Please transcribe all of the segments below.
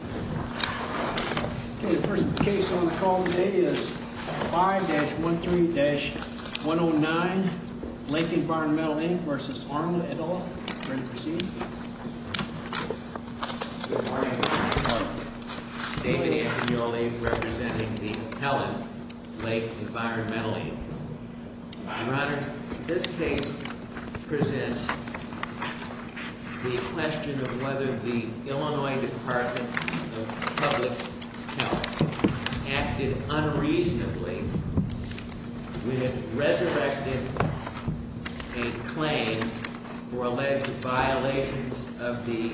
Okay, the first case on the call today is 5-13-109, Lake Environmental, Inc. v. Arnold, et al. Ready to proceed? Good morning. David Agnoli representing the Helen Lake Environmental, Inc. Your Honors, this case presents the question of whether the Illinois Department of Public Health acted unreasonably when it resurrected a claim for alleged violations of the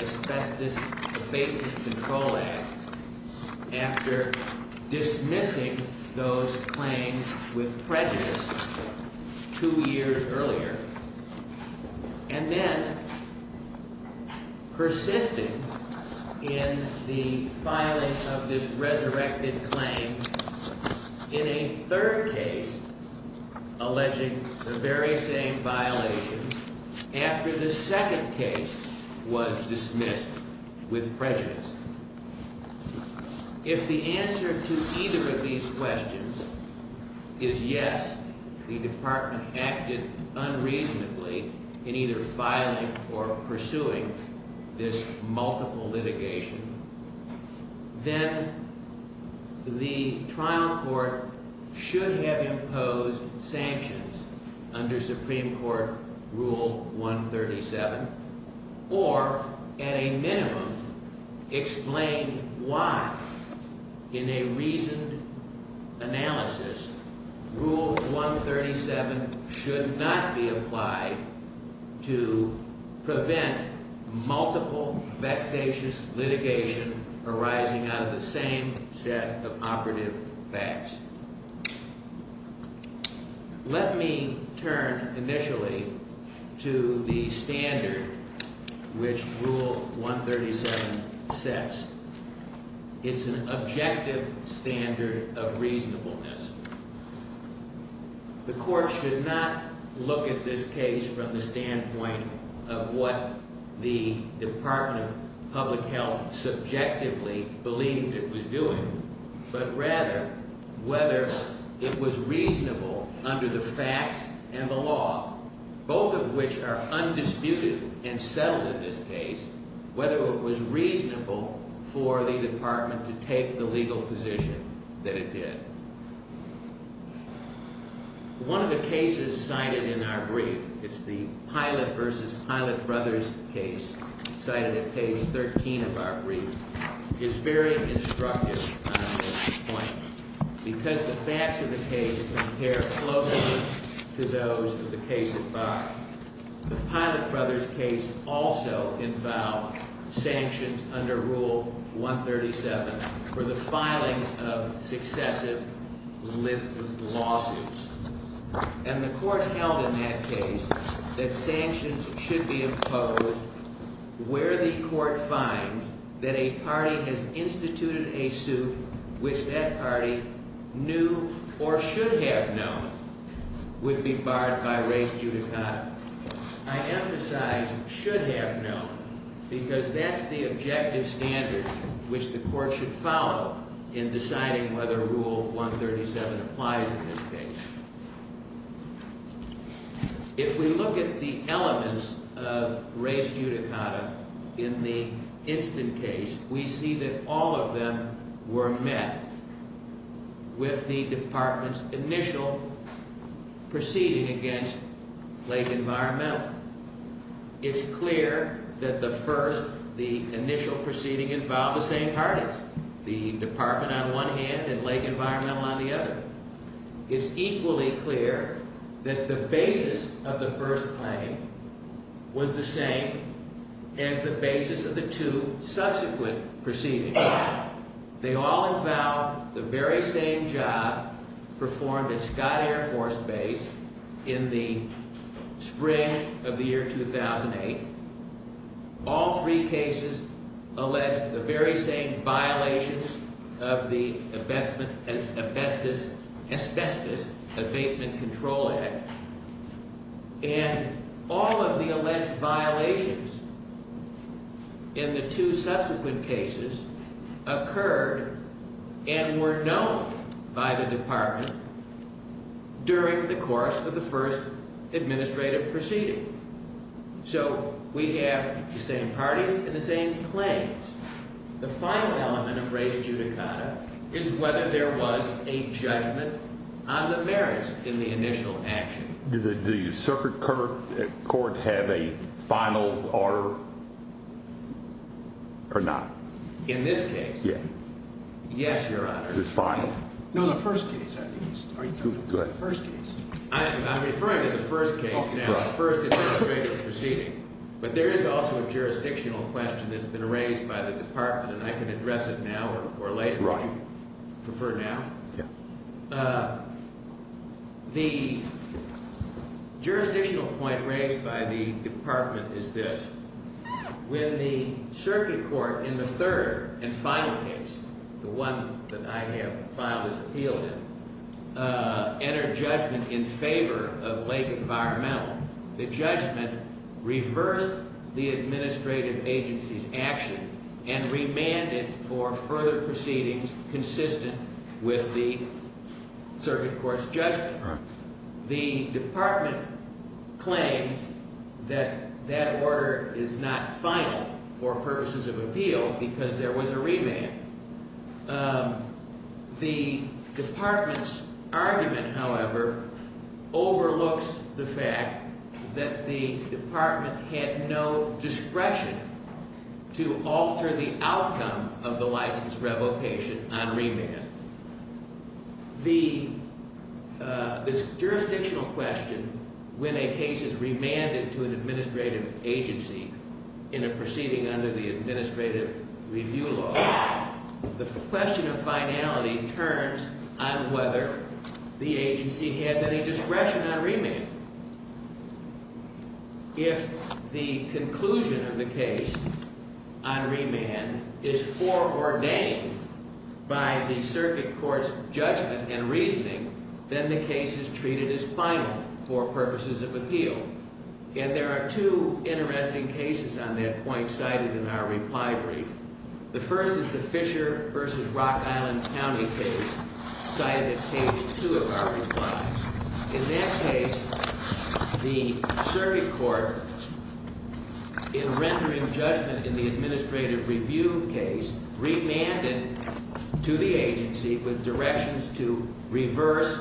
Asbestos Abatement Control Act after dismissing those claims with prejudice two years earlier, and then persisting in the filing of this resurrected claim in a third case alleging the very same violation after the second case was dismissed with prejudice. If the answer to either of these questions is yes, the Department acted unreasonably in either filing or pursuing this multiple litigation, then the trial court should have imposed sanctions under Supreme Court Rule 137 or, at a minimum, explain why, in a reasoned analysis, Rule 137 should not be applied to prevent multiple vexatious litigation arising out of the same set of operative facts. Let me turn, initially, to the standard which Rule 137 sets. It's an objective standard of reasonableness. The court should not look at this case from the standpoint of what the Department of Public Health subjectively believed it was doing, but rather whether it was reasonable under the facts and the law, both of which are undisputed and settled in this case, whether it was reasonable for the Department to take the legal position that it did. One of the cases cited in our brief, it's the Pilot v. Pilot Brothers case, cited at page 13 of our brief, is very instructive on this point because the facts of the case compare closely to those of the case at bar. The Pilot Brothers case also infall sanctions under Rule 137 for the filing of successive lit lawsuits. And the court held in that case that sanctions should be imposed where the court finds that a party has instituted a suit which that party knew or should have known would be barred by race judicata. I emphasize should have known because that's the objective standard which the court should follow in deciding whether Rule 137 applies in this case. If we look at the elements of race judicata in the instant case, we see that all of them were met with the Department's initial proceeding against Lake Environmental. It's clear that the first, the initial proceeding involved the same parties. The Department on one hand and Lake Environmental on the other. It's equally clear that the basis of the first claim was the same as the basis of the two subsequent proceedings. They all involved the very same job performed at Scott Air Force Base in the spring of the year 2008. All three cases allege the very same violations of the Asbestos Abatement Control Act. And all of the alleged violations in the two subsequent cases occurred and were known by the Department during the course of the first administrative proceeding. So we have the same parties and the same claims. The final element of race judicata is whether there was a judgment on the merits in the initial action. Do the circuit court have a final order or not? In this case? Yes. Yes, Your Honor. It's final. No, the first case. Are you talking about the first case? I'm referring to the first case now. The first administrative proceeding. But there is also a jurisdictional question that's been raised by the Department and I can address it now or later. Would you prefer now? Yes. The jurisdictional point raised by the Department is this. When the circuit court in the third and final case, the one that I have filed this appeal in, entered judgment in favor of Lake Environmental, the judgment reversed the administrative agency's action and remanded for further proceedings consistent with the circuit court's judgment. The Department claims that that order is not final for purposes of appeal because there was a remand. The Department's argument, however, overlooks the fact that the Department had no discretion to alter the outcome of the license revocation on remand. This jurisdictional question, when a case is remanded to an administrative agency in a proceeding under the administrative review law, the question of finality turns on whether the agency has any discretion on remand. If the conclusion of the case on remand is foreordained by the circuit court's judgment and reasoning, then the case is treated as final for purposes of appeal. And there are two interesting cases on that point cited in our reply brief. The first is the Fisher v. Rock Island County case cited at page two of our reply. In that case, the circuit court, in rendering judgment in the administrative review case, remanded to the agency with directions to reverse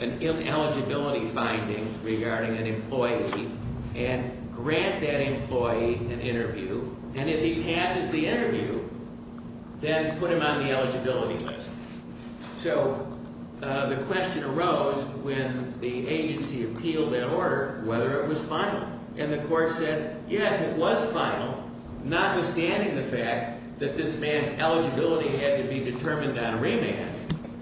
an ineligibility finding regarding an employee and grant that employee an interview. And if he passes the interview, then put him on the eligibility list. So the question arose when the agency appealed that order whether it was final. And the court said, yes, it was final, notwithstanding the fact that this man's eligibility had to be determined on remand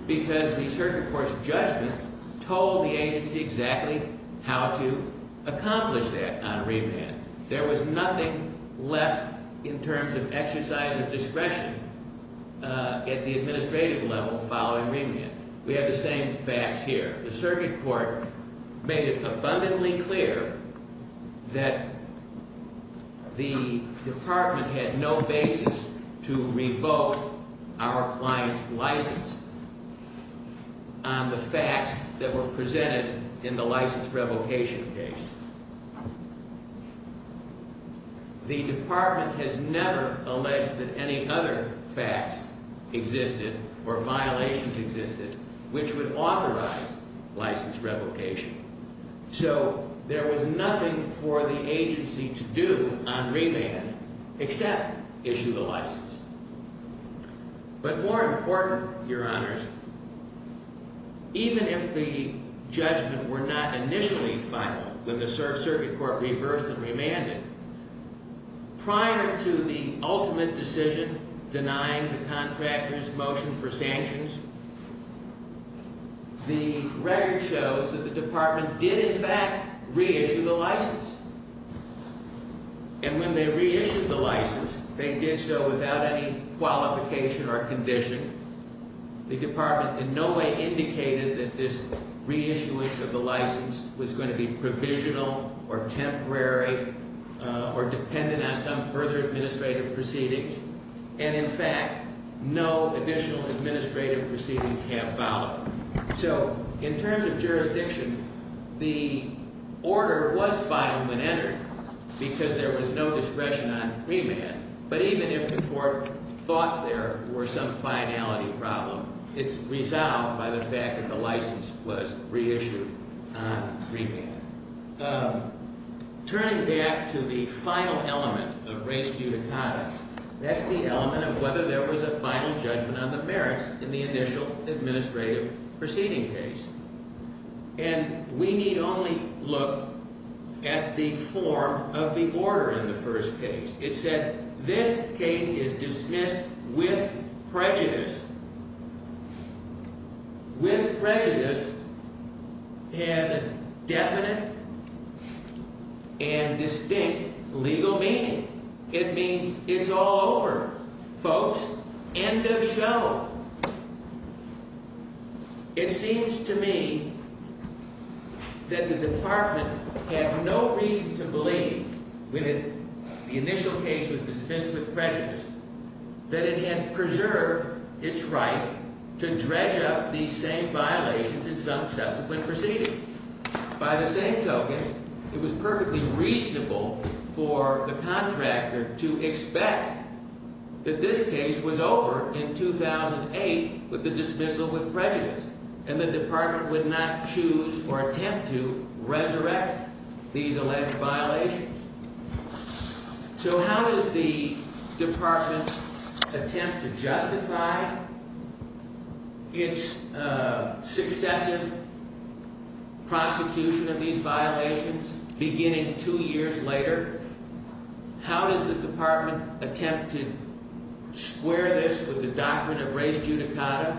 because the circuit court's judgment told the agency exactly how to accomplish that on remand. There was nothing left in terms of exercise of discretion at the administrative level following remand. We have the same facts here. The circuit court made it abundantly clear that the department had no basis to revoke our client's license on the facts that were presented in the license revocation case. The department has never alleged that any other facts existed or violations existed which would authorize license revocation. So there was nothing for the agency to do on remand except issue the license. But more important, Your Honors, even if the judgment were not initially final when the circuit court reversed and remanded, prior to the ultimate decision denying the contractor's motion for sanctions, the record shows that the department did in fact reissue the license. And when they reissued the license, they did so without any qualification or condition. The department in no way indicated that this reissuance of the license was going to be provisional or temporary or dependent on some further administrative proceedings. And in fact, no additional administrative proceedings have followed. So in terms of jurisdiction, the order was final when entered because there was no discretion on remand. But even if the court thought there were some finality problem, it's resolved by the fact that the license was reissued on remand. Turning back to the final element of res judicata, that's the element of whether there was a final judgment on the merits in the initial administrative proceeding case. And we need only look at the form of the order in the first case. It said this case is dismissed with prejudice. With prejudice has a definite and distinct legal meaning. It means it's all over, folks. End of show. It seems to me that the department had no reason to believe when the initial case was dismissed with prejudice that it had preserved its right to dredge up these same violations in some subsequent proceeding. By the same token, it was perfectly reasonable for the contractor to expect that this case was over in 2008 with the dismissal with prejudice. And the department would not choose or attempt to resurrect these alleged violations. So how does the department attempt to justify its successive prosecution of these violations beginning two years later? How does the department attempt to square this with the doctrine of res judicata?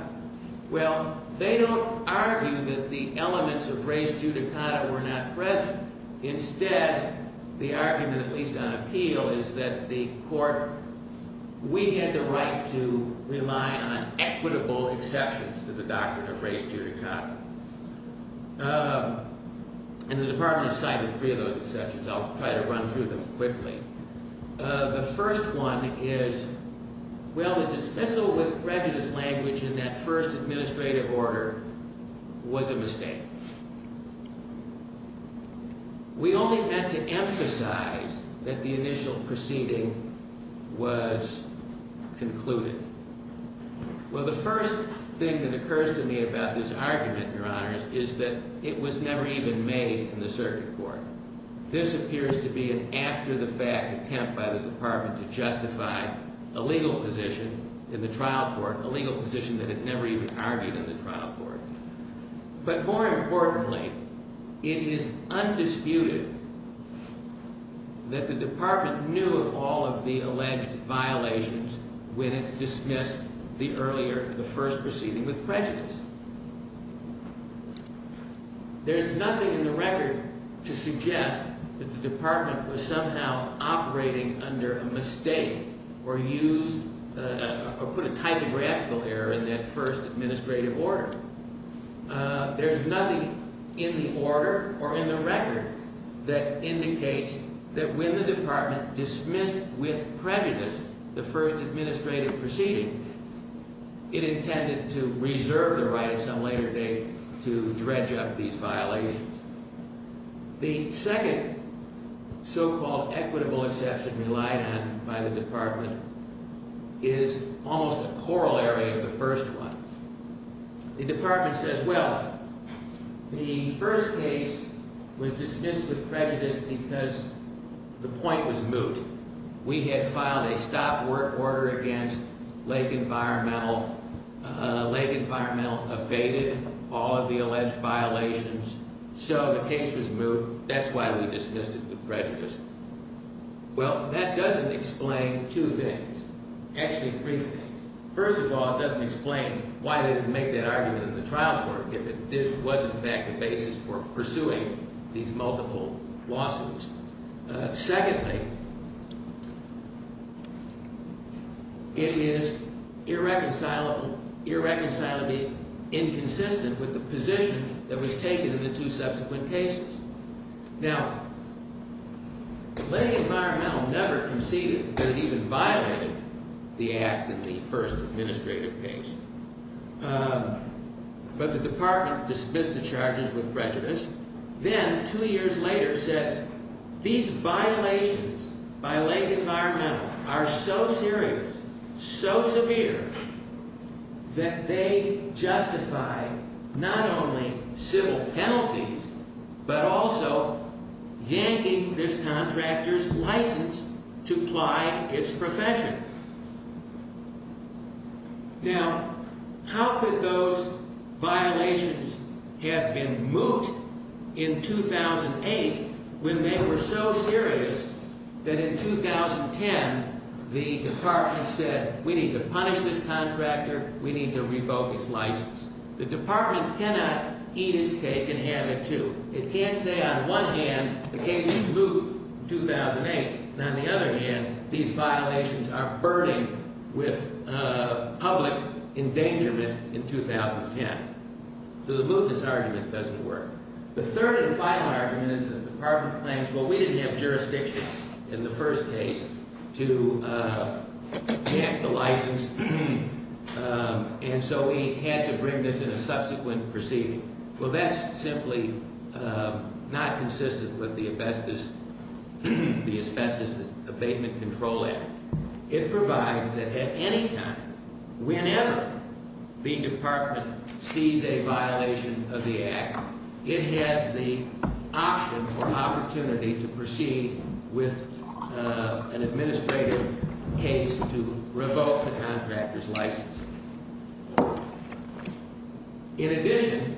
Well, they don't argue that the elements of res judicata were not present. Instead, the argument, at least on appeal, is that the court, we had the right to rely on equitable exceptions to the doctrine of res judicata. And the department cited three of those exceptions. I'll try to run through them quickly. The first one is, well, the dismissal with prejudice language in that first administrative order was a mistake. We only had to emphasize that the initial proceeding was concluded. Well, the first thing that occurs to me about this argument, Your Honors, is that it was never even made in the circuit court. This appears to be an after-the-fact attempt by the department to justify a legal position in the trial court, a legal position that it never even argued in the trial court. But more importantly, it is undisputed that the department knew of all of the alleged violations when it dismissed the earlier, the first proceeding with prejudice. There's nothing in the record to suggest that the department was somehow operating under a mistake or used or put a typographical error in that first administrative order. There's nothing in the order or in the record that indicates that when the department dismissed with prejudice the first administrative proceeding, it intended to reserve the right at some later date to dredge up these violations. The second so-called equitable exception relied on by the department is almost a corollary of the first one. The department says, well, the first case was dismissed with prejudice because the point was moot. We had filed a stop order against Lake Environmental. Lake Environmental abated all of the alleged violations, so the case was moot. That's why we dismissed it with prejudice. Well, that doesn't explain two things. Actually, three things. First of all, it doesn't explain why they didn't make that argument in the trial court if it was, in fact, the basis for pursuing these multiple lawsuits. Secondly, it is irreconcilably inconsistent with the position that was taken in the two subsequent cases. Now, Lake Environmental never conceded that it even violated the act in the first administrative case, but the department dismissed the charges with prejudice. Then, two years later, says these violations by Lake Environmental are so serious, so severe, that they justify not only civil penalties, but also yanking this contractor's license to apply its profession. Now, how could those violations have been moot in 2008 when they were so serious that in 2010 the department said, we need to punish this contractor, we need to revoke its license. The department cannot eat its cake and have it too. It can't say, on one hand, the case is moot in 2008, and on the other hand, these violations are burning with public endangerment in 2010. So the mootness argument doesn't work. The third and final argument is that the department claims, well, we didn't have jurisdictions in the first case to yank the license, and so we had to bring this in a subsequent proceeding. Well, that's simply not consistent with the Asbestos Abatement Control Act. It provides that at any time, whenever the department sees a violation of the act, it has the option or opportunity to proceed with an administrative case to revoke the contractor's license. In addition,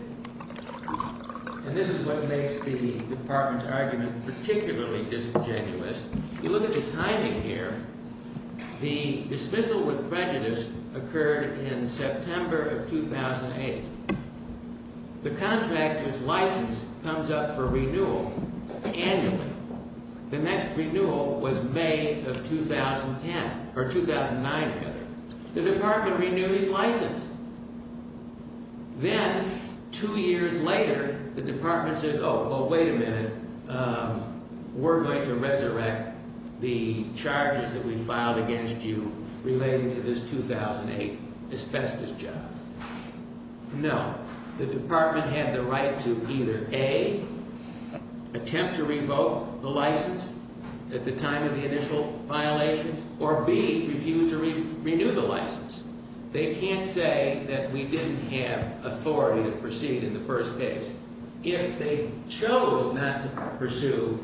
and this is what makes the department's argument particularly disingenuous, you look at the timing here. The dismissal with prejudice occurred in September of 2008. The contractor's license comes up for renewal annually. The next renewal was May of 2010 or 2009. The department renewed his license. Then, two years later, the department says, oh, well, wait a minute, we're going to resurrect the charges that we filed against you relating to this 2008 asbestos job. No. The department had the right to either A, attempt to revoke the license at the time of the initial violation, or B, refuse to renew the license. They can't say that we didn't have authority to proceed in the first case. If they chose not to pursue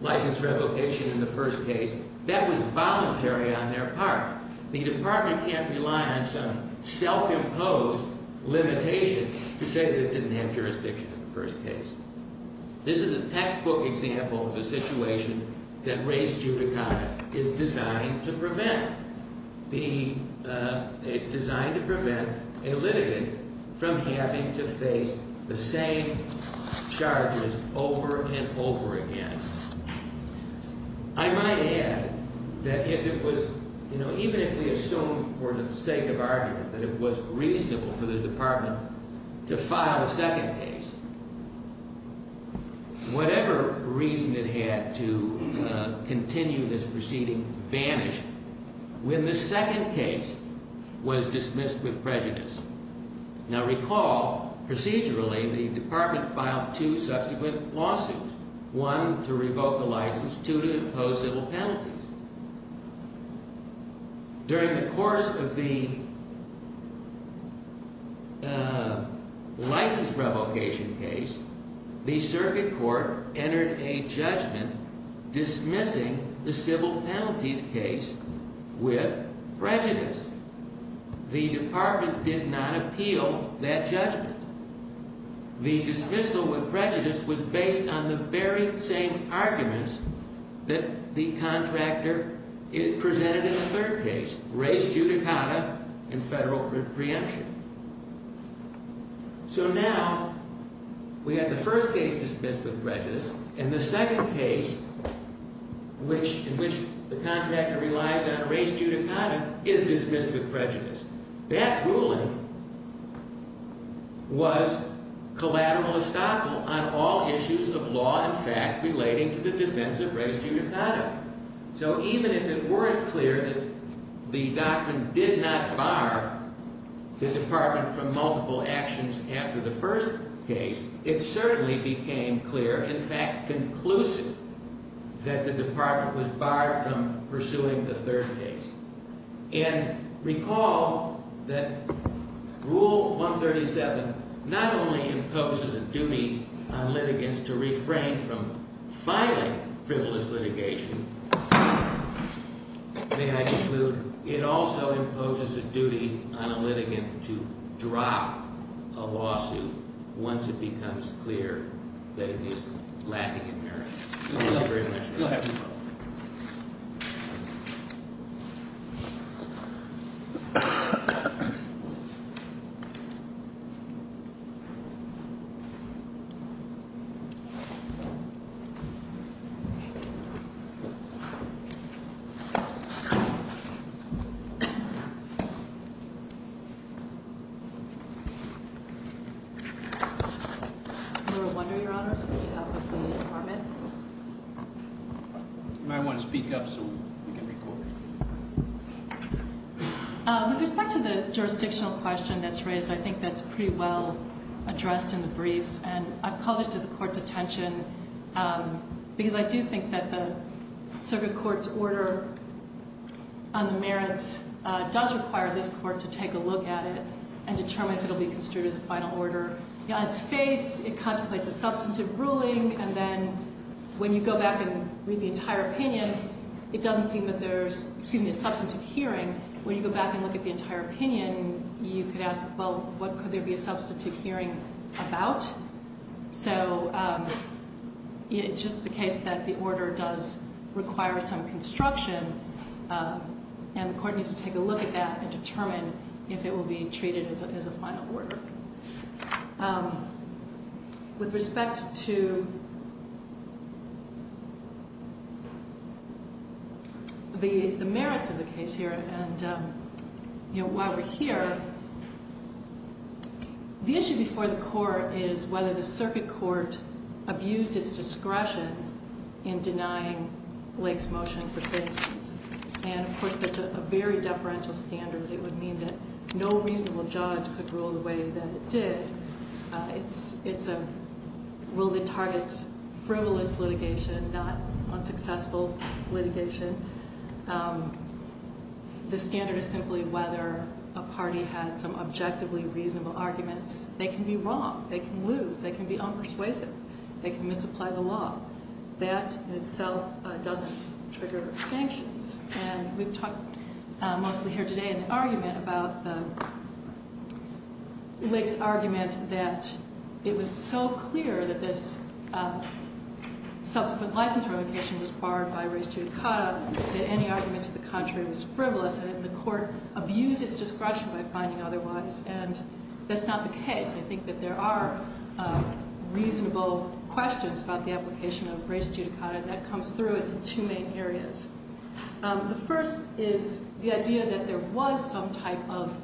license revocation in the first case, that was voluntary on their part. The department can't rely on some self-imposed limitation to say that it didn't have jurisdiction in the first case. This is a textbook example of a situation that race judicata is designed to prevent. It's designed to prevent a litigant from having to face the same charges over and over again. I might add that if it was, you know, even if we assume for the sake of argument that it was reasonable for the department to file a second case, whatever reason it had to continue this proceeding vanished when the second case was dismissed with prejudice. Now recall, procedurally, the department filed two subsequent lawsuits. One to revoke the license, two to impose civil penalties. During the course of the license revocation case, the circuit court entered a judgment dismissing the civil penalties case with prejudice. The department did not appeal that judgment. The dismissal with prejudice was based on the very same arguments that the contractor presented in the third case, race judicata and federal preemption. So now we have the first case dismissed with prejudice, and the second case in which the contractor relies on race judicata is dismissed with prejudice. That ruling was collateral estoppel on all issues of law and fact relating to the defense of race judicata. So even if it weren't clear that the doctrine did not bar the department from multiple actions after the first case, it certainly became clear, in fact conclusive, that the department was barred from pursuing the third case. And recall that Rule 137 not only imposes a duty on litigants to refrain from filing frivolous litigation, may I conclude, it also imposes a duty on a litigant to drop a lawsuit once it becomes clear that it is lacking in merit. Go ahead. Thank you. Thank you. Your Honor, speaking of the department. You might want to speak up so we can record. With respect to the jurisdictional question that's raised, I think that's pretty well addressed in the briefs, and I've called it to the court's attention because I do think that the circuit court's order on the merits does require this court to take a look at it and determine if it will be construed as a final order. On its face, it contemplates a substantive ruling, and then when you go back and read the entire opinion, it doesn't seem that there's, excuse me, a substantive hearing. When you go back and look at the entire opinion, you could ask, well, what could there be a substantive hearing about? So it's just the case that the order does require some construction, and the court needs to take a look at that and determine if it will be treated as a final order. With respect to the merits of the case here, and while we're here, the issue before the court is whether the circuit court abused its discretion in denying Blake's motion for sentence. And, of course, that's a very deferential standard. It would mean that no reasonable judge could rule the way that it did. It's a rule that targets frivolous litigation, not unsuccessful litigation. The standard is simply whether a party had some objectively reasonable arguments. They can be wrong, they can lose, they can be unpersuasive, they can misapply the law. That, in itself, doesn't trigger sanctions. And we've talked mostly here today in the argument about Blake's argument that it was so clear that this subsequent licensure application was barred by race judicata, that any argument to the contrary was frivolous, and that the court abused its discretion by finding otherwise, and that's not the case. I think that there are reasonable questions about the application of race judicata, and that comes through in two main areas. The first is the idea that there was some type of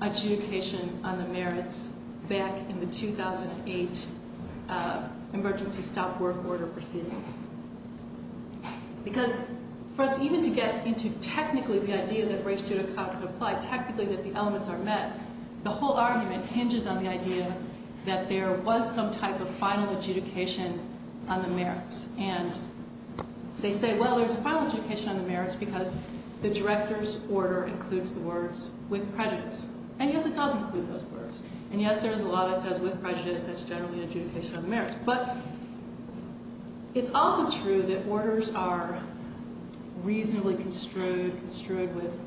adjudication on the merits back in the 2008 emergency stop work order proceeding. Because for us even to get into technically the idea that race judicata could apply, technically that the elements are met, the whole argument hinges on the idea that there was some type of final adjudication on the merits. And they say, well, there's a final adjudication on the merits because the director's order includes the words with prejudice. And yes, it does include those words. And yes, there is a law that says with prejudice that's generally an adjudication on the merits. But it's also true that orders are reasonably construed with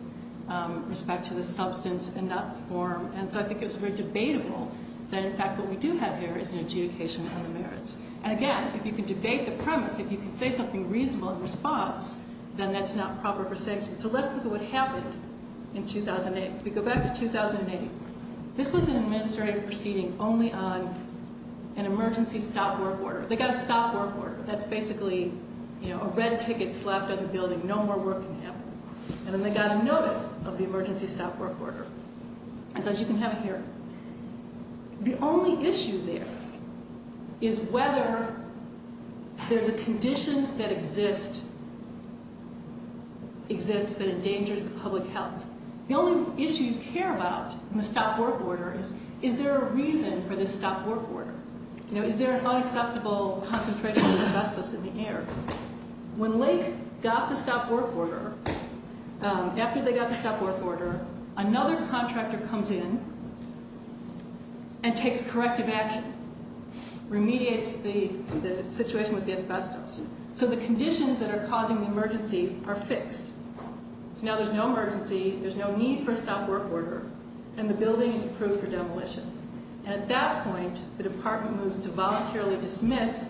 respect to the substance and not the form. And so I think it's very debatable that in fact what we do have here is an adjudication on the merits. And again, if you can debate the premise, if you can say something reasonable in response, then that's not proper for sanction. So let's look at what happened in 2008. If we go back to 2008, this was an administrative proceeding only on an emergency stop work order. They got a stop work order. That's basically a red ticket slapped on the building, no more work can happen. And then they got a notice of the emergency stop work order. It says you can have it here. The only issue there is whether there's a condition that exists that endangers the public health. The only issue you care about in the stop work order is is there a reason for this stop work order? You know, is there an unacceptable concentration of asbestos in the air? When Lake got the stop work order, after they got the stop work order, another contractor comes in and takes corrective action, remediates the situation with the asbestos. So the conditions that are causing the emergency are fixed. So now there's no emergency. There's no need for a stop work order. And the building is approved for demolition. And at that point, the department moves to voluntarily dismiss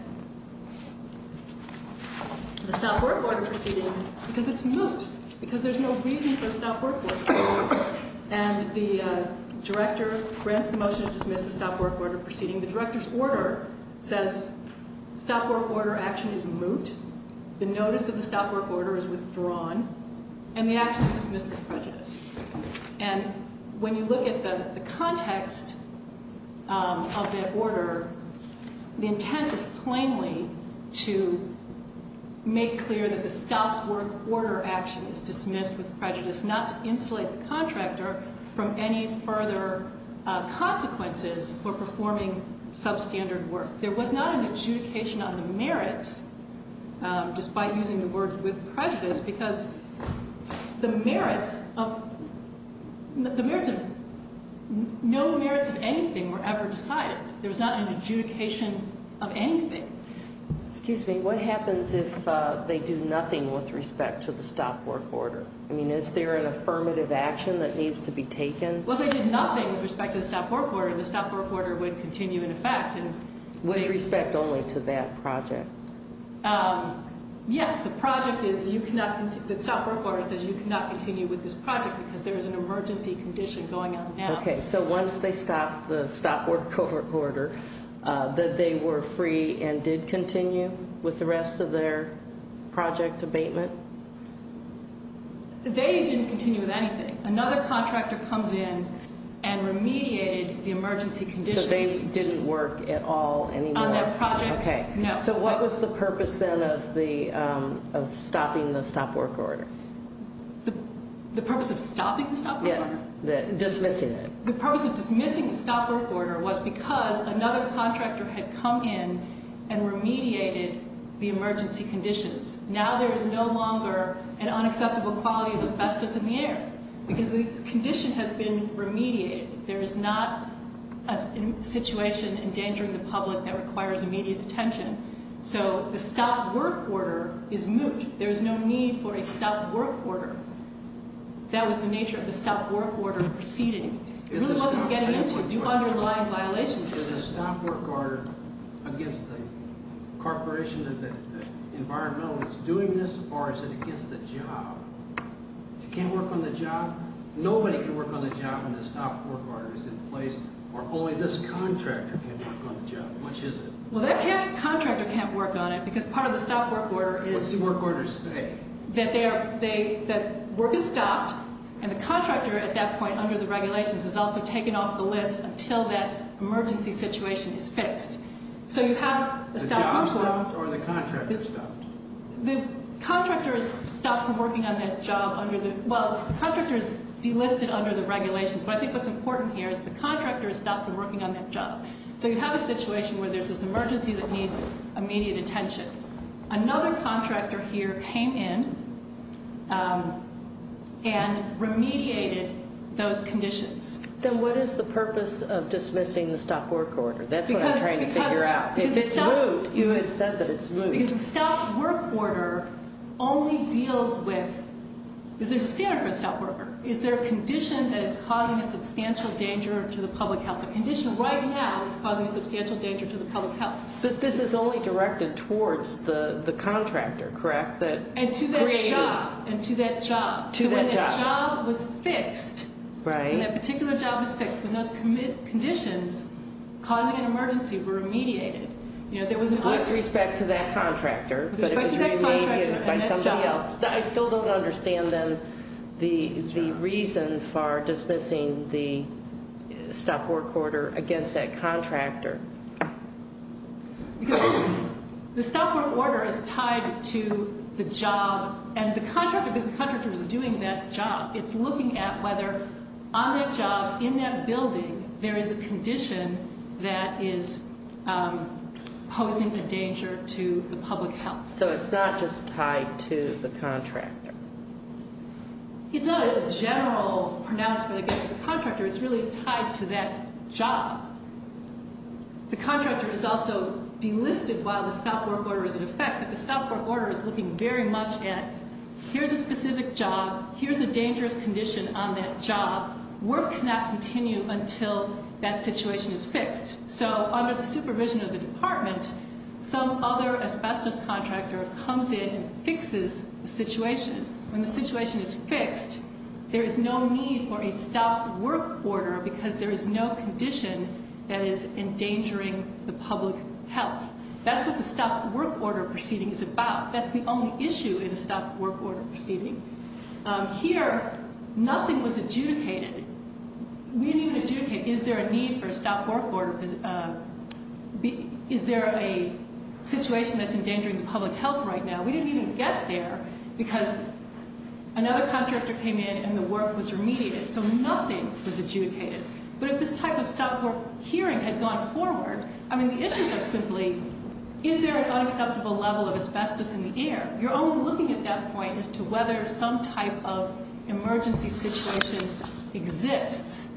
the stop work order proceeding because it's moot, because there's no reason for a stop work order. And the director grants the motion to dismiss the stop work order proceeding. The director's order says stop work order action is moot. The notice of the stop work order is withdrawn. And the action is dismissed with prejudice. And when you look at the context of that order, the intent is plainly to make clear that the stop work order action is dismissed with prejudice, not to insulate the contractor from any further consequences for performing substandard work. There was not an adjudication on the merits, despite using the word with prejudice, because the merits of no merits of anything were ever decided. There was not an adjudication of anything. Excuse me. What happens if they do nothing with respect to the stop work order? I mean, is there an affirmative action that needs to be taken? Well, if they did nothing with respect to the stop work order, the stop work order would continue in effect. With respect only to that project? Yes. The project is you cannot continue. The stop work order says you cannot continue with this project because there is an emergency condition going on now. Okay. So once they stopped the stop work order, they were free and did continue with the rest of their project abatement? They didn't continue with anything. Another contractor comes in and remediated the emergency conditions. They didn't work at all anymore? On that project, no. Okay. So what was the purpose then of stopping the stop work order? The purpose of stopping the stop work order? Yes. Dismissing it. The purpose of dismissing the stop work order was because another contractor had come in and remediated the emergency conditions. Now there is no longer an unacceptable quality of asbestos in the air because the condition has been remediated. There is not a situation endangering the public that requires immediate attention. So the stop work order is moot. There is no need for a stop work order. That was the nature of the stop work order proceeding. It really wasn't getting into underlying violations of the stop work order. Is the stop work order against the corporation, the environmental that's doing this, or is it against the job? You can't work on the job? Nobody can work on the job when the stop work order is in place, or only this contractor can work on the job, which is it? Well, that contractor can't work on it because part of the stop work order is that work is stopped, and the contractor at that point under the regulations is also taken off the list until that emergency situation is fixed. So you have the stop work order. The contractor is stopped from working on that job under the – well, the contractor is delisted under the regulations, but I think what's important here is the contractor is stopped from working on that job. So you have a situation where there's this emergency that needs immediate attention. Another contractor here came in and remediated those conditions. Then what is the purpose of dismissing the stop work order? That's what I'm trying to figure out. Because the stop work order only deals with – is there a standard for a stop work order? Is there a condition that is causing a substantial danger to the public health? A condition right now that's causing a substantial danger to the public health. But this is only directed towards the contractor, correct? And to that job. And to that job. To that job. So when that job was fixed, when that particular job was fixed, when those conditions causing an emergency were remediated, with respect to that contractor, but it was remediated by somebody else, I still don't understand then the reason for dismissing the stop work order against that contractor. Because the stop work order is tied to the job, and the contractor is doing that job. It's looking at whether on that job, in that building, there is a condition that is posing a danger to the public health. So it's not just tied to the contractor. It's not a general pronouncement against the contractor. It's really tied to that job. The contractor is also delisted while the stop work order is in effect, but the stop work order is looking very much at here's a specific job. Here's a dangerous condition on that job. Work cannot continue until that situation is fixed. So under the supervision of the department, some other asbestos contractor comes in and fixes the situation. When the situation is fixed, there is no need for a stop work order because there is no condition that is endangering the public health. That's what the stop work order proceeding is about. That's the only issue in a stop work order proceeding. Here, nothing was adjudicated. We didn't even adjudicate, is there a need for a stop work order? Is there a situation that's endangering the public health right now? We didn't even get there because another contractor came in and the work was remediated. So nothing was adjudicated. But if this type of stop work hearing had gone forward, I mean, the issues are simply, is there an unacceptable level of asbestos in the air? You're only looking at that point as to whether some type of emergency situation exists.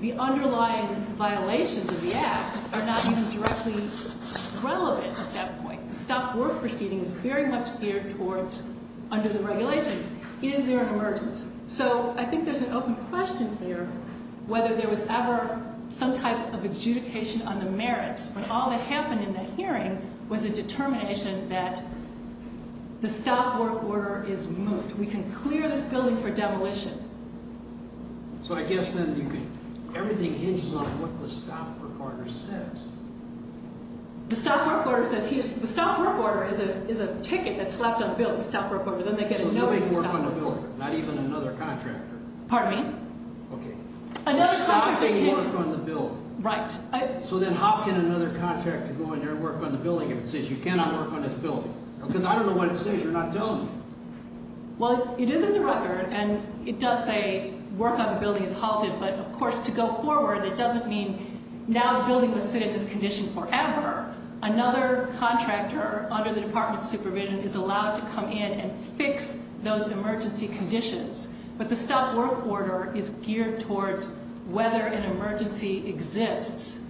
The underlying violations of the act are not even directly relevant at that point. The stop work proceeding is very much geared towards under the regulations. Is there an emergency? So I think there's an open question here whether there was ever some type of adjudication on the merits. But all that happened in that hearing was a determination that the stop work order is moved. We can clear this building for demolition. So I guess then everything hinges on what the stop work order says. The stop work order is a ticket that's left on the building, the stop work order. So nobody can work on the building, not even another contractor? Pardon me? Okay. Stopping work on the building. Right. So then how can another contractor go in there and work on the building if it says you cannot work on this building? Because I don't know what it says. You're not telling me. Well, it is in the record, and it does say work on the building is halted. But, of course, to go forward, that doesn't mean now the building will sit in this condition forever. Another contractor under the department's supervision is allowed to come in and fix those emergency conditions. But the stop work order is geared towards whether an emergency exists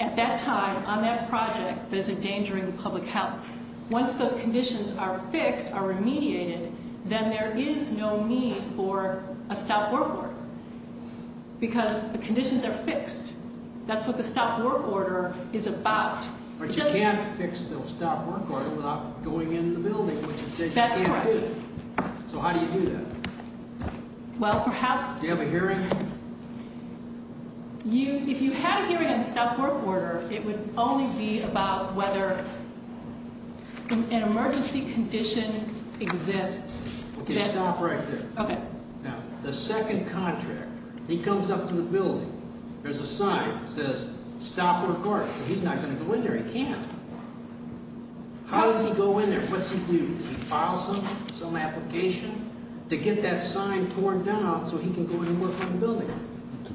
at that time on that project that is endangering public health. Once those conditions are fixed, are remediated, then there is no need for a stop work order because the conditions are fixed. That's what the stop work order is about. But you can't fix the stop work order without going in the building, which it says you can't do. That's correct. So how do you do that? Well, perhaps. Do you have a hearing? If you had a hearing on the stop work order, it would only be about whether an emergency condition exists. Okay, stop right there. Okay. Now, the second contractor, he comes up to the building. There's a sign that says stop work order. He's not going to go in there. He can't. How does he go in there? What does he do? Does he file something, some application to get that sign torn down so he can go in and work on the building?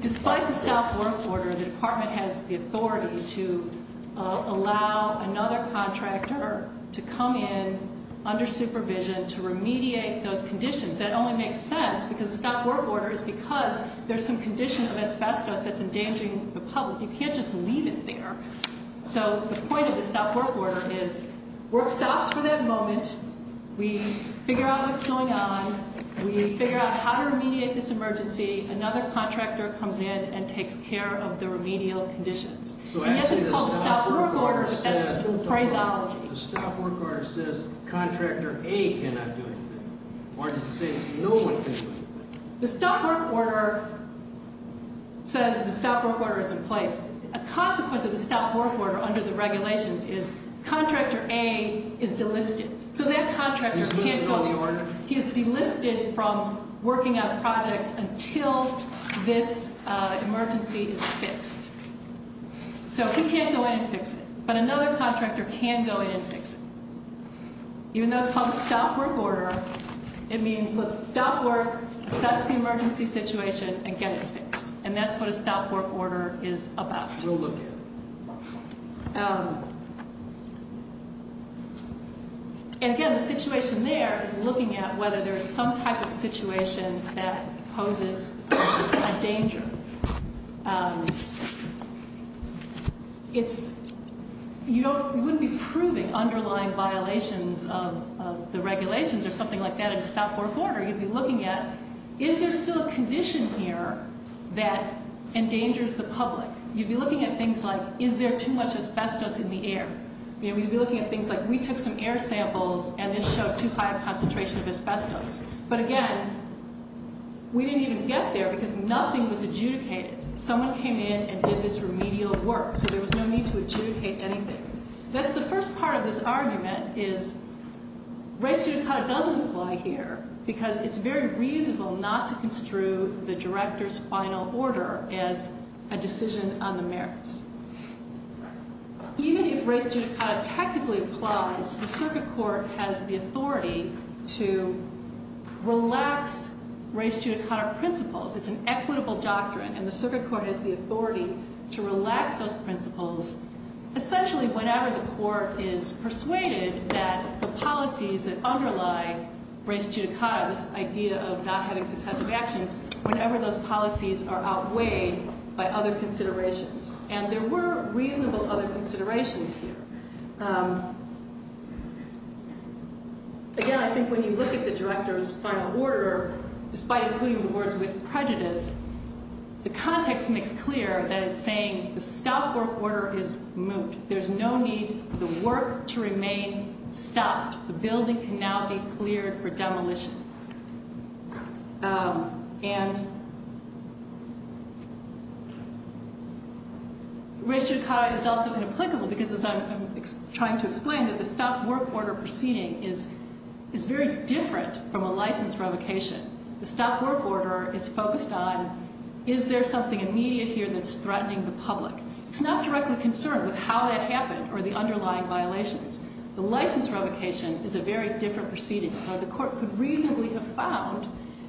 Despite the stop work order, the department has the authority to allow another contractor to come in under supervision to remediate those conditions. That only makes sense because the stop work order is because there's some condition of asbestos that's endangering the public. You can't just leave it there. So the point of the stop work order is work stops for that moment. We figure out what's going on. We figure out how to remediate this emergency. Another contractor comes in and takes care of the remedial conditions. And yes, it's called stop work order, but that's a phraseology. The stop work order says contractor A cannot do anything. Or does it say no one can do anything? The stop work order says the stop work order is in place. A consequence of the stop work order under the regulations is contractor A is delisted. So that contractor can't go in. He's listed on the order? He is delisted from working on projects until this emergency is fixed. So he can't go in and fix it. But another contractor can go in and fix it. Even though it's called a stop work order, it means let's stop work, assess the emergency situation, and get it fixed. And that's what a stop work order is about. We'll look at it. And again, the situation there is looking at whether there's some type of situation that poses a danger. You wouldn't be proving underlying violations of the regulations or something like that in a stop work order. You'd be looking at is there still a condition here that endangers the public? You'd be looking at things like is there too much asbestos in the air? We'd be looking at things like we took some air samples and it showed too high a concentration of asbestos. But again, we didn't even get there because nothing was adjudicated. Someone came in and did this remedial work. So there was no need to adjudicate anything. That's the first part of this argument is race judicata doesn't apply here because it's very reasonable not to construe the director's final order as a decision on the merits. Even if race judicata tactically applies, the circuit court has the authority to relax race judicata principles. It's an equitable doctrine, and the circuit court has the authority to relax those principles essentially whenever the court is persuaded that the policies that underlie race judicata, this idea of not having successive actions, whenever those policies are outweighed by other considerations. And there were reasonable other considerations here. Again, I think when you look at the director's final order, despite including the words with prejudice, the context makes clear that it's saying the stop work order is moot. There's no need for the work to remain stopped. The building can now be cleared for demolition. And race judicata is also inapplicable because, as I'm trying to explain, that the stop work order proceeding is very different from a license revocation. The stop work order is focused on is there something immediate here that's threatening the public. It's not directly concerned with how that happened or the underlying violations. The license revocation is a very different proceeding. So the court could reasonably have found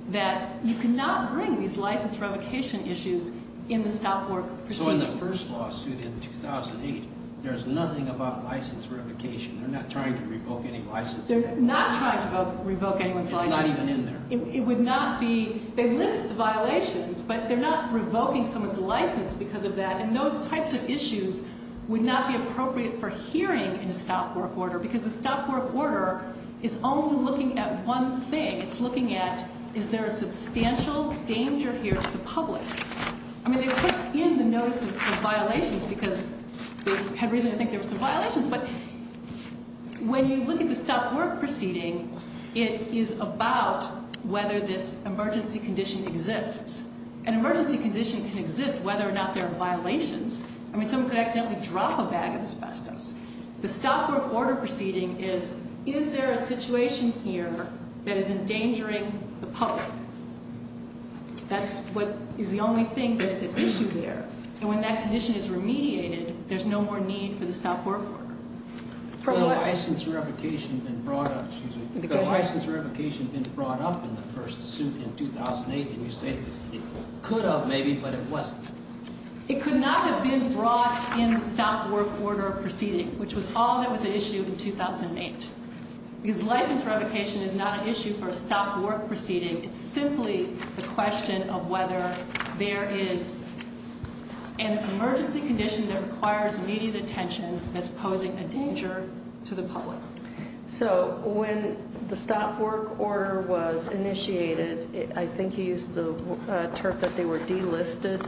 that you cannot bring these license revocation issues in the stop work proceeding. So in the first lawsuit in 2008, there's nothing about license revocation. They're not trying to revoke any license. They're not trying to revoke anyone's license. It's not even in there. It would not be. They list the violations, but they're not revoking someone's license because of that. And those types of issues would not be appropriate for hearing in a stop work order because the stop work order is only looking at one thing. It's looking at is there a substantial danger here to the public. I mean, they put in the notice of violations because they had reason to think there was some violations. But when you look at the stop work proceeding, it is about whether this emergency condition exists. An emergency condition can exist whether or not there are violations. I mean, someone could accidentally drop a bag of asbestos. The stop work order proceeding is, is there a situation here that is endangering the public? That's what is the only thing that is at issue there. And when that condition is remediated, there's no more need for the stop work order. Could a license revocation have been brought up in the first suit in 2008? And you say it could have maybe, but it wasn't. It could not have been brought in the stop work order proceeding, which was all that was at issue in 2008. Because license revocation is not an issue for a stop work proceeding. It's simply the question of whether there is an emergency condition that requires immediate attention that's posing a danger to the public. So when the stop work order was initiated, I think you used the term that they were delisted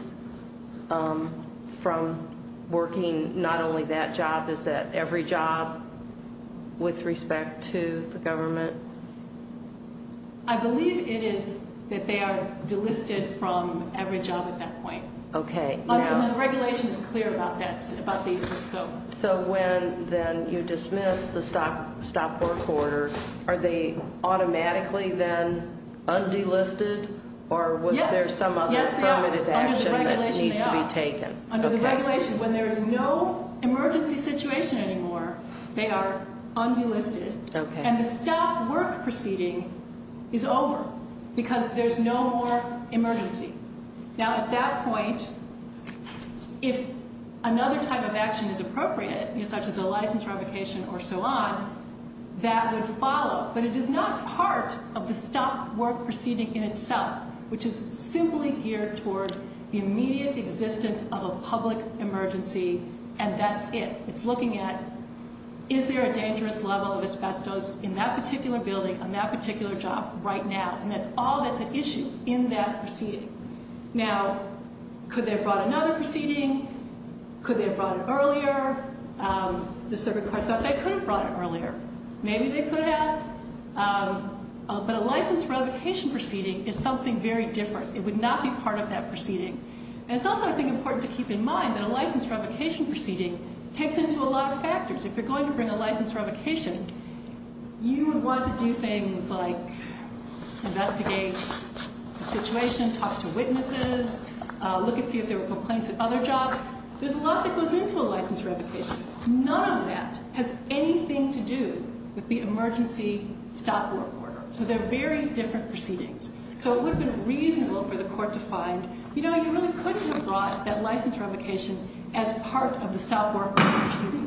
from working not only that job, is that every job with respect to the government? I believe it is that they are delisted from every job at that point. Okay. But the regulation is clear about that, about the scope. So when then you dismiss the stop work order, are they automatically then undelisted? Yes. Or was there some other formative action that needs to be taken? Yes, under the regulation they are. Under the regulation, when there is no emergency situation anymore, they are undelisted. Okay. And the stop work proceeding is over because there's no more emergency. Now, at that point, if another type of action is appropriate, such as a license revocation or so on, that would follow. But it is not part of the stop work proceeding in itself, which is simply geared toward the immediate existence of a public emergency, and that's it. It's looking at, is there a dangerous level of asbestos in that particular building on that particular job right now? And that's all that's at issue in that proceeding. Now, could they have brought another proceeding? Could they have brought it earlier? The circuit court thought they could have brought it earlier. Maybe they could have. But a license revocation proceeding is something very different. It would not be part of that proceeding. And it's also, I think, important to keep in mind that a license revocation proceeding takes into a lot of factors. If you're going to bring a license revocation, you would want to do things like investigate the situation, talk to witnesses, look and see if there were complaints at other jobs. There's a lot that goes into a license revocation. None of that has anything to do with the emergency stop work order. So they're very different proceedings. So it would have been reasonable for the court to find, you know, you really could have brought that license revocation as part of the stop work proceeding.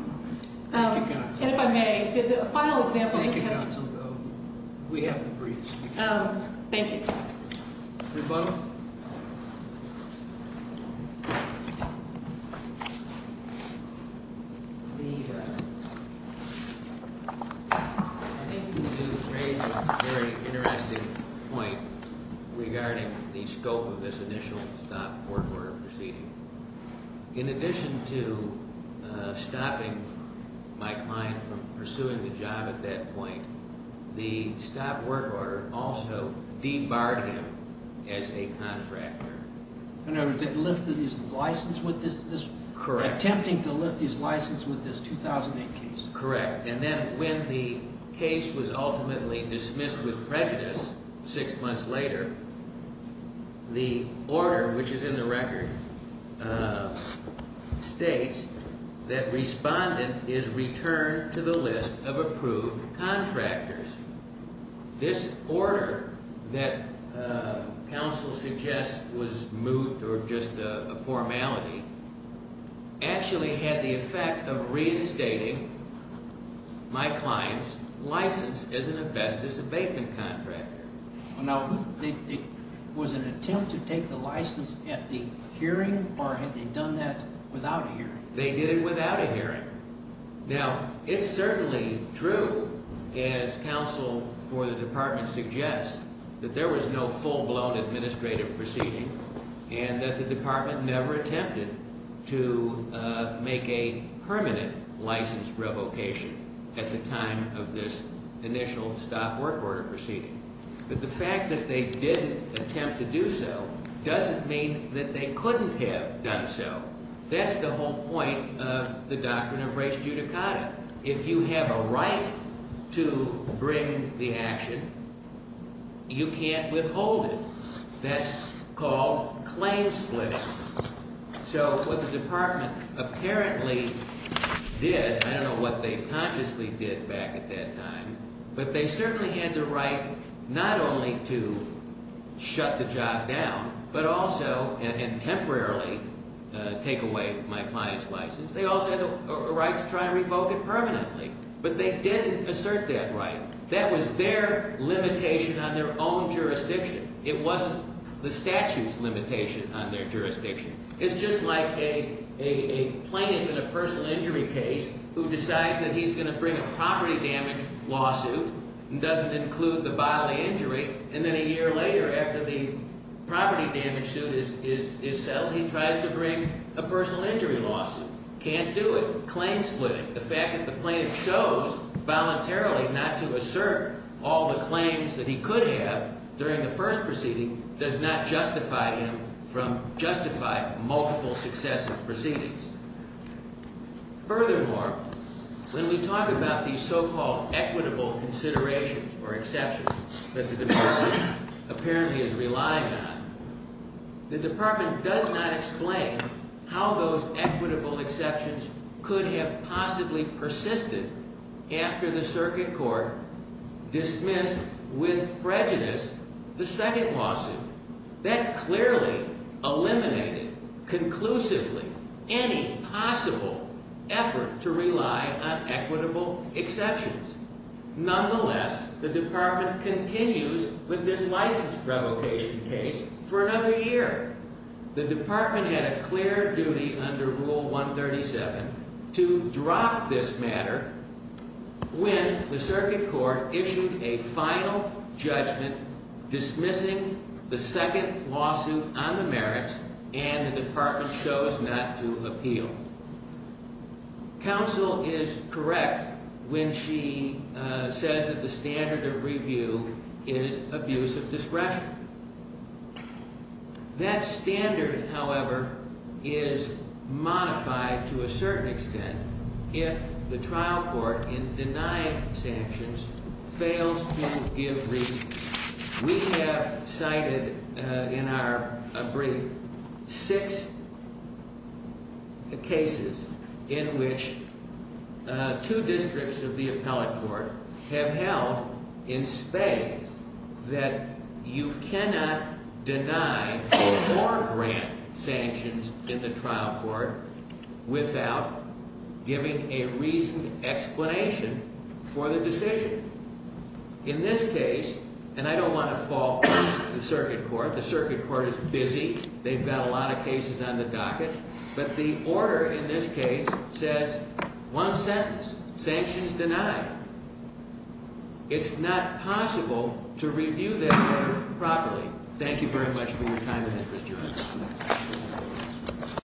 And if I may, a final example. We have the briefs. Thank you. Rebuttal. I think you made a very interesting point regarding the scope of this initial stop work order proceeding. In addition to stopping my client from pursuing the job at that point, the stop work order also debarred him as a contractor. In other words, it lifted his license with this? Correct. Attempting to lift his license with this 2008 case. Correct. And then when the case was ultimately dismissed with prejudice six months later, the order, which is in the record, states that respondent is returned to the list of approved contractors. This order that counsel suggests was moved, or just a formality, actually had the effect of reinstating my client's license as an investors abatement contractor. Now, it was an attempt to take the license at the hearing, or had they done that without a hearing? They did it without a hearing. Now, it's certainly true, as counsel for the department suggests, that there was no full-blown administrative proceeding and that the department never attempted to make a permanent license revocation at the time of this initial stop work order proceeding. But the fact that they didn't attempt to do so doesn't mean that they couldn't have done so. That's the whole point of the doctrine of res judicata. If you have a right to bring the action, you can't withhold it. That's called claim splitting. So what the department apparently did, I don't know what they consciously did back at that time, but they certainly had the right not only to shut the job down, but also and temporarily take away my client's license. They also had a right to try and revoke it permanently. But they didn't assert that right. That was their limitation on their own jurisdiction. It wasn't the statute's limitation on their jurisdiction. It's just like a plaintiff in a personal injury case who decides that he's going to bring a property damage lawsuit and doesn't include the bodily injury. And then a year later, after the property damage suit is settled, he tries to bring a personal injury lawsuit. Can't do it. Claim splitting. The fact that the plaintiff chose voluntarily not to assert all the claims that he could have during the first proceeding does not justify him from justifying multiple successive proceedings. Furthermore, when we talk about these so-called equitable considerations or exceptions that the department apparently is relying on, the department does not explain how those equitable exceptions could have possibly persisted after the circuit court dismissed with prejudice the second lawsuit. That clearly eliminated conclusively any possible effort to rely on equitable exceptions. Nonetheless, the department continues with this license revocation case for another year. The department had a clear duty under Rule 137 to drop this matter when the circuit court issued a final judgment dismissing the second lawsuit on the merits and the department chose not to appeal. Counsel is correct when she says that the standard of review is abuse of discretion. That standard, however, is modified to a certain extent if the trial court in denying sanctions fails to give reason. We have cited in our brief six cases in which two districts of the appellate court have held in spades that you cannot deny or grant sanctions in the trial court without giving a reasoned explanation for the decision. In this case, and I don't want to fall into the circuit court, the circuit court is busy. They've got a lot of cases on the docket, but the order in this case says one sentence, sanctions denied. It's not possible to review that order properly. Thank you very much for your time and interest, Your Honor.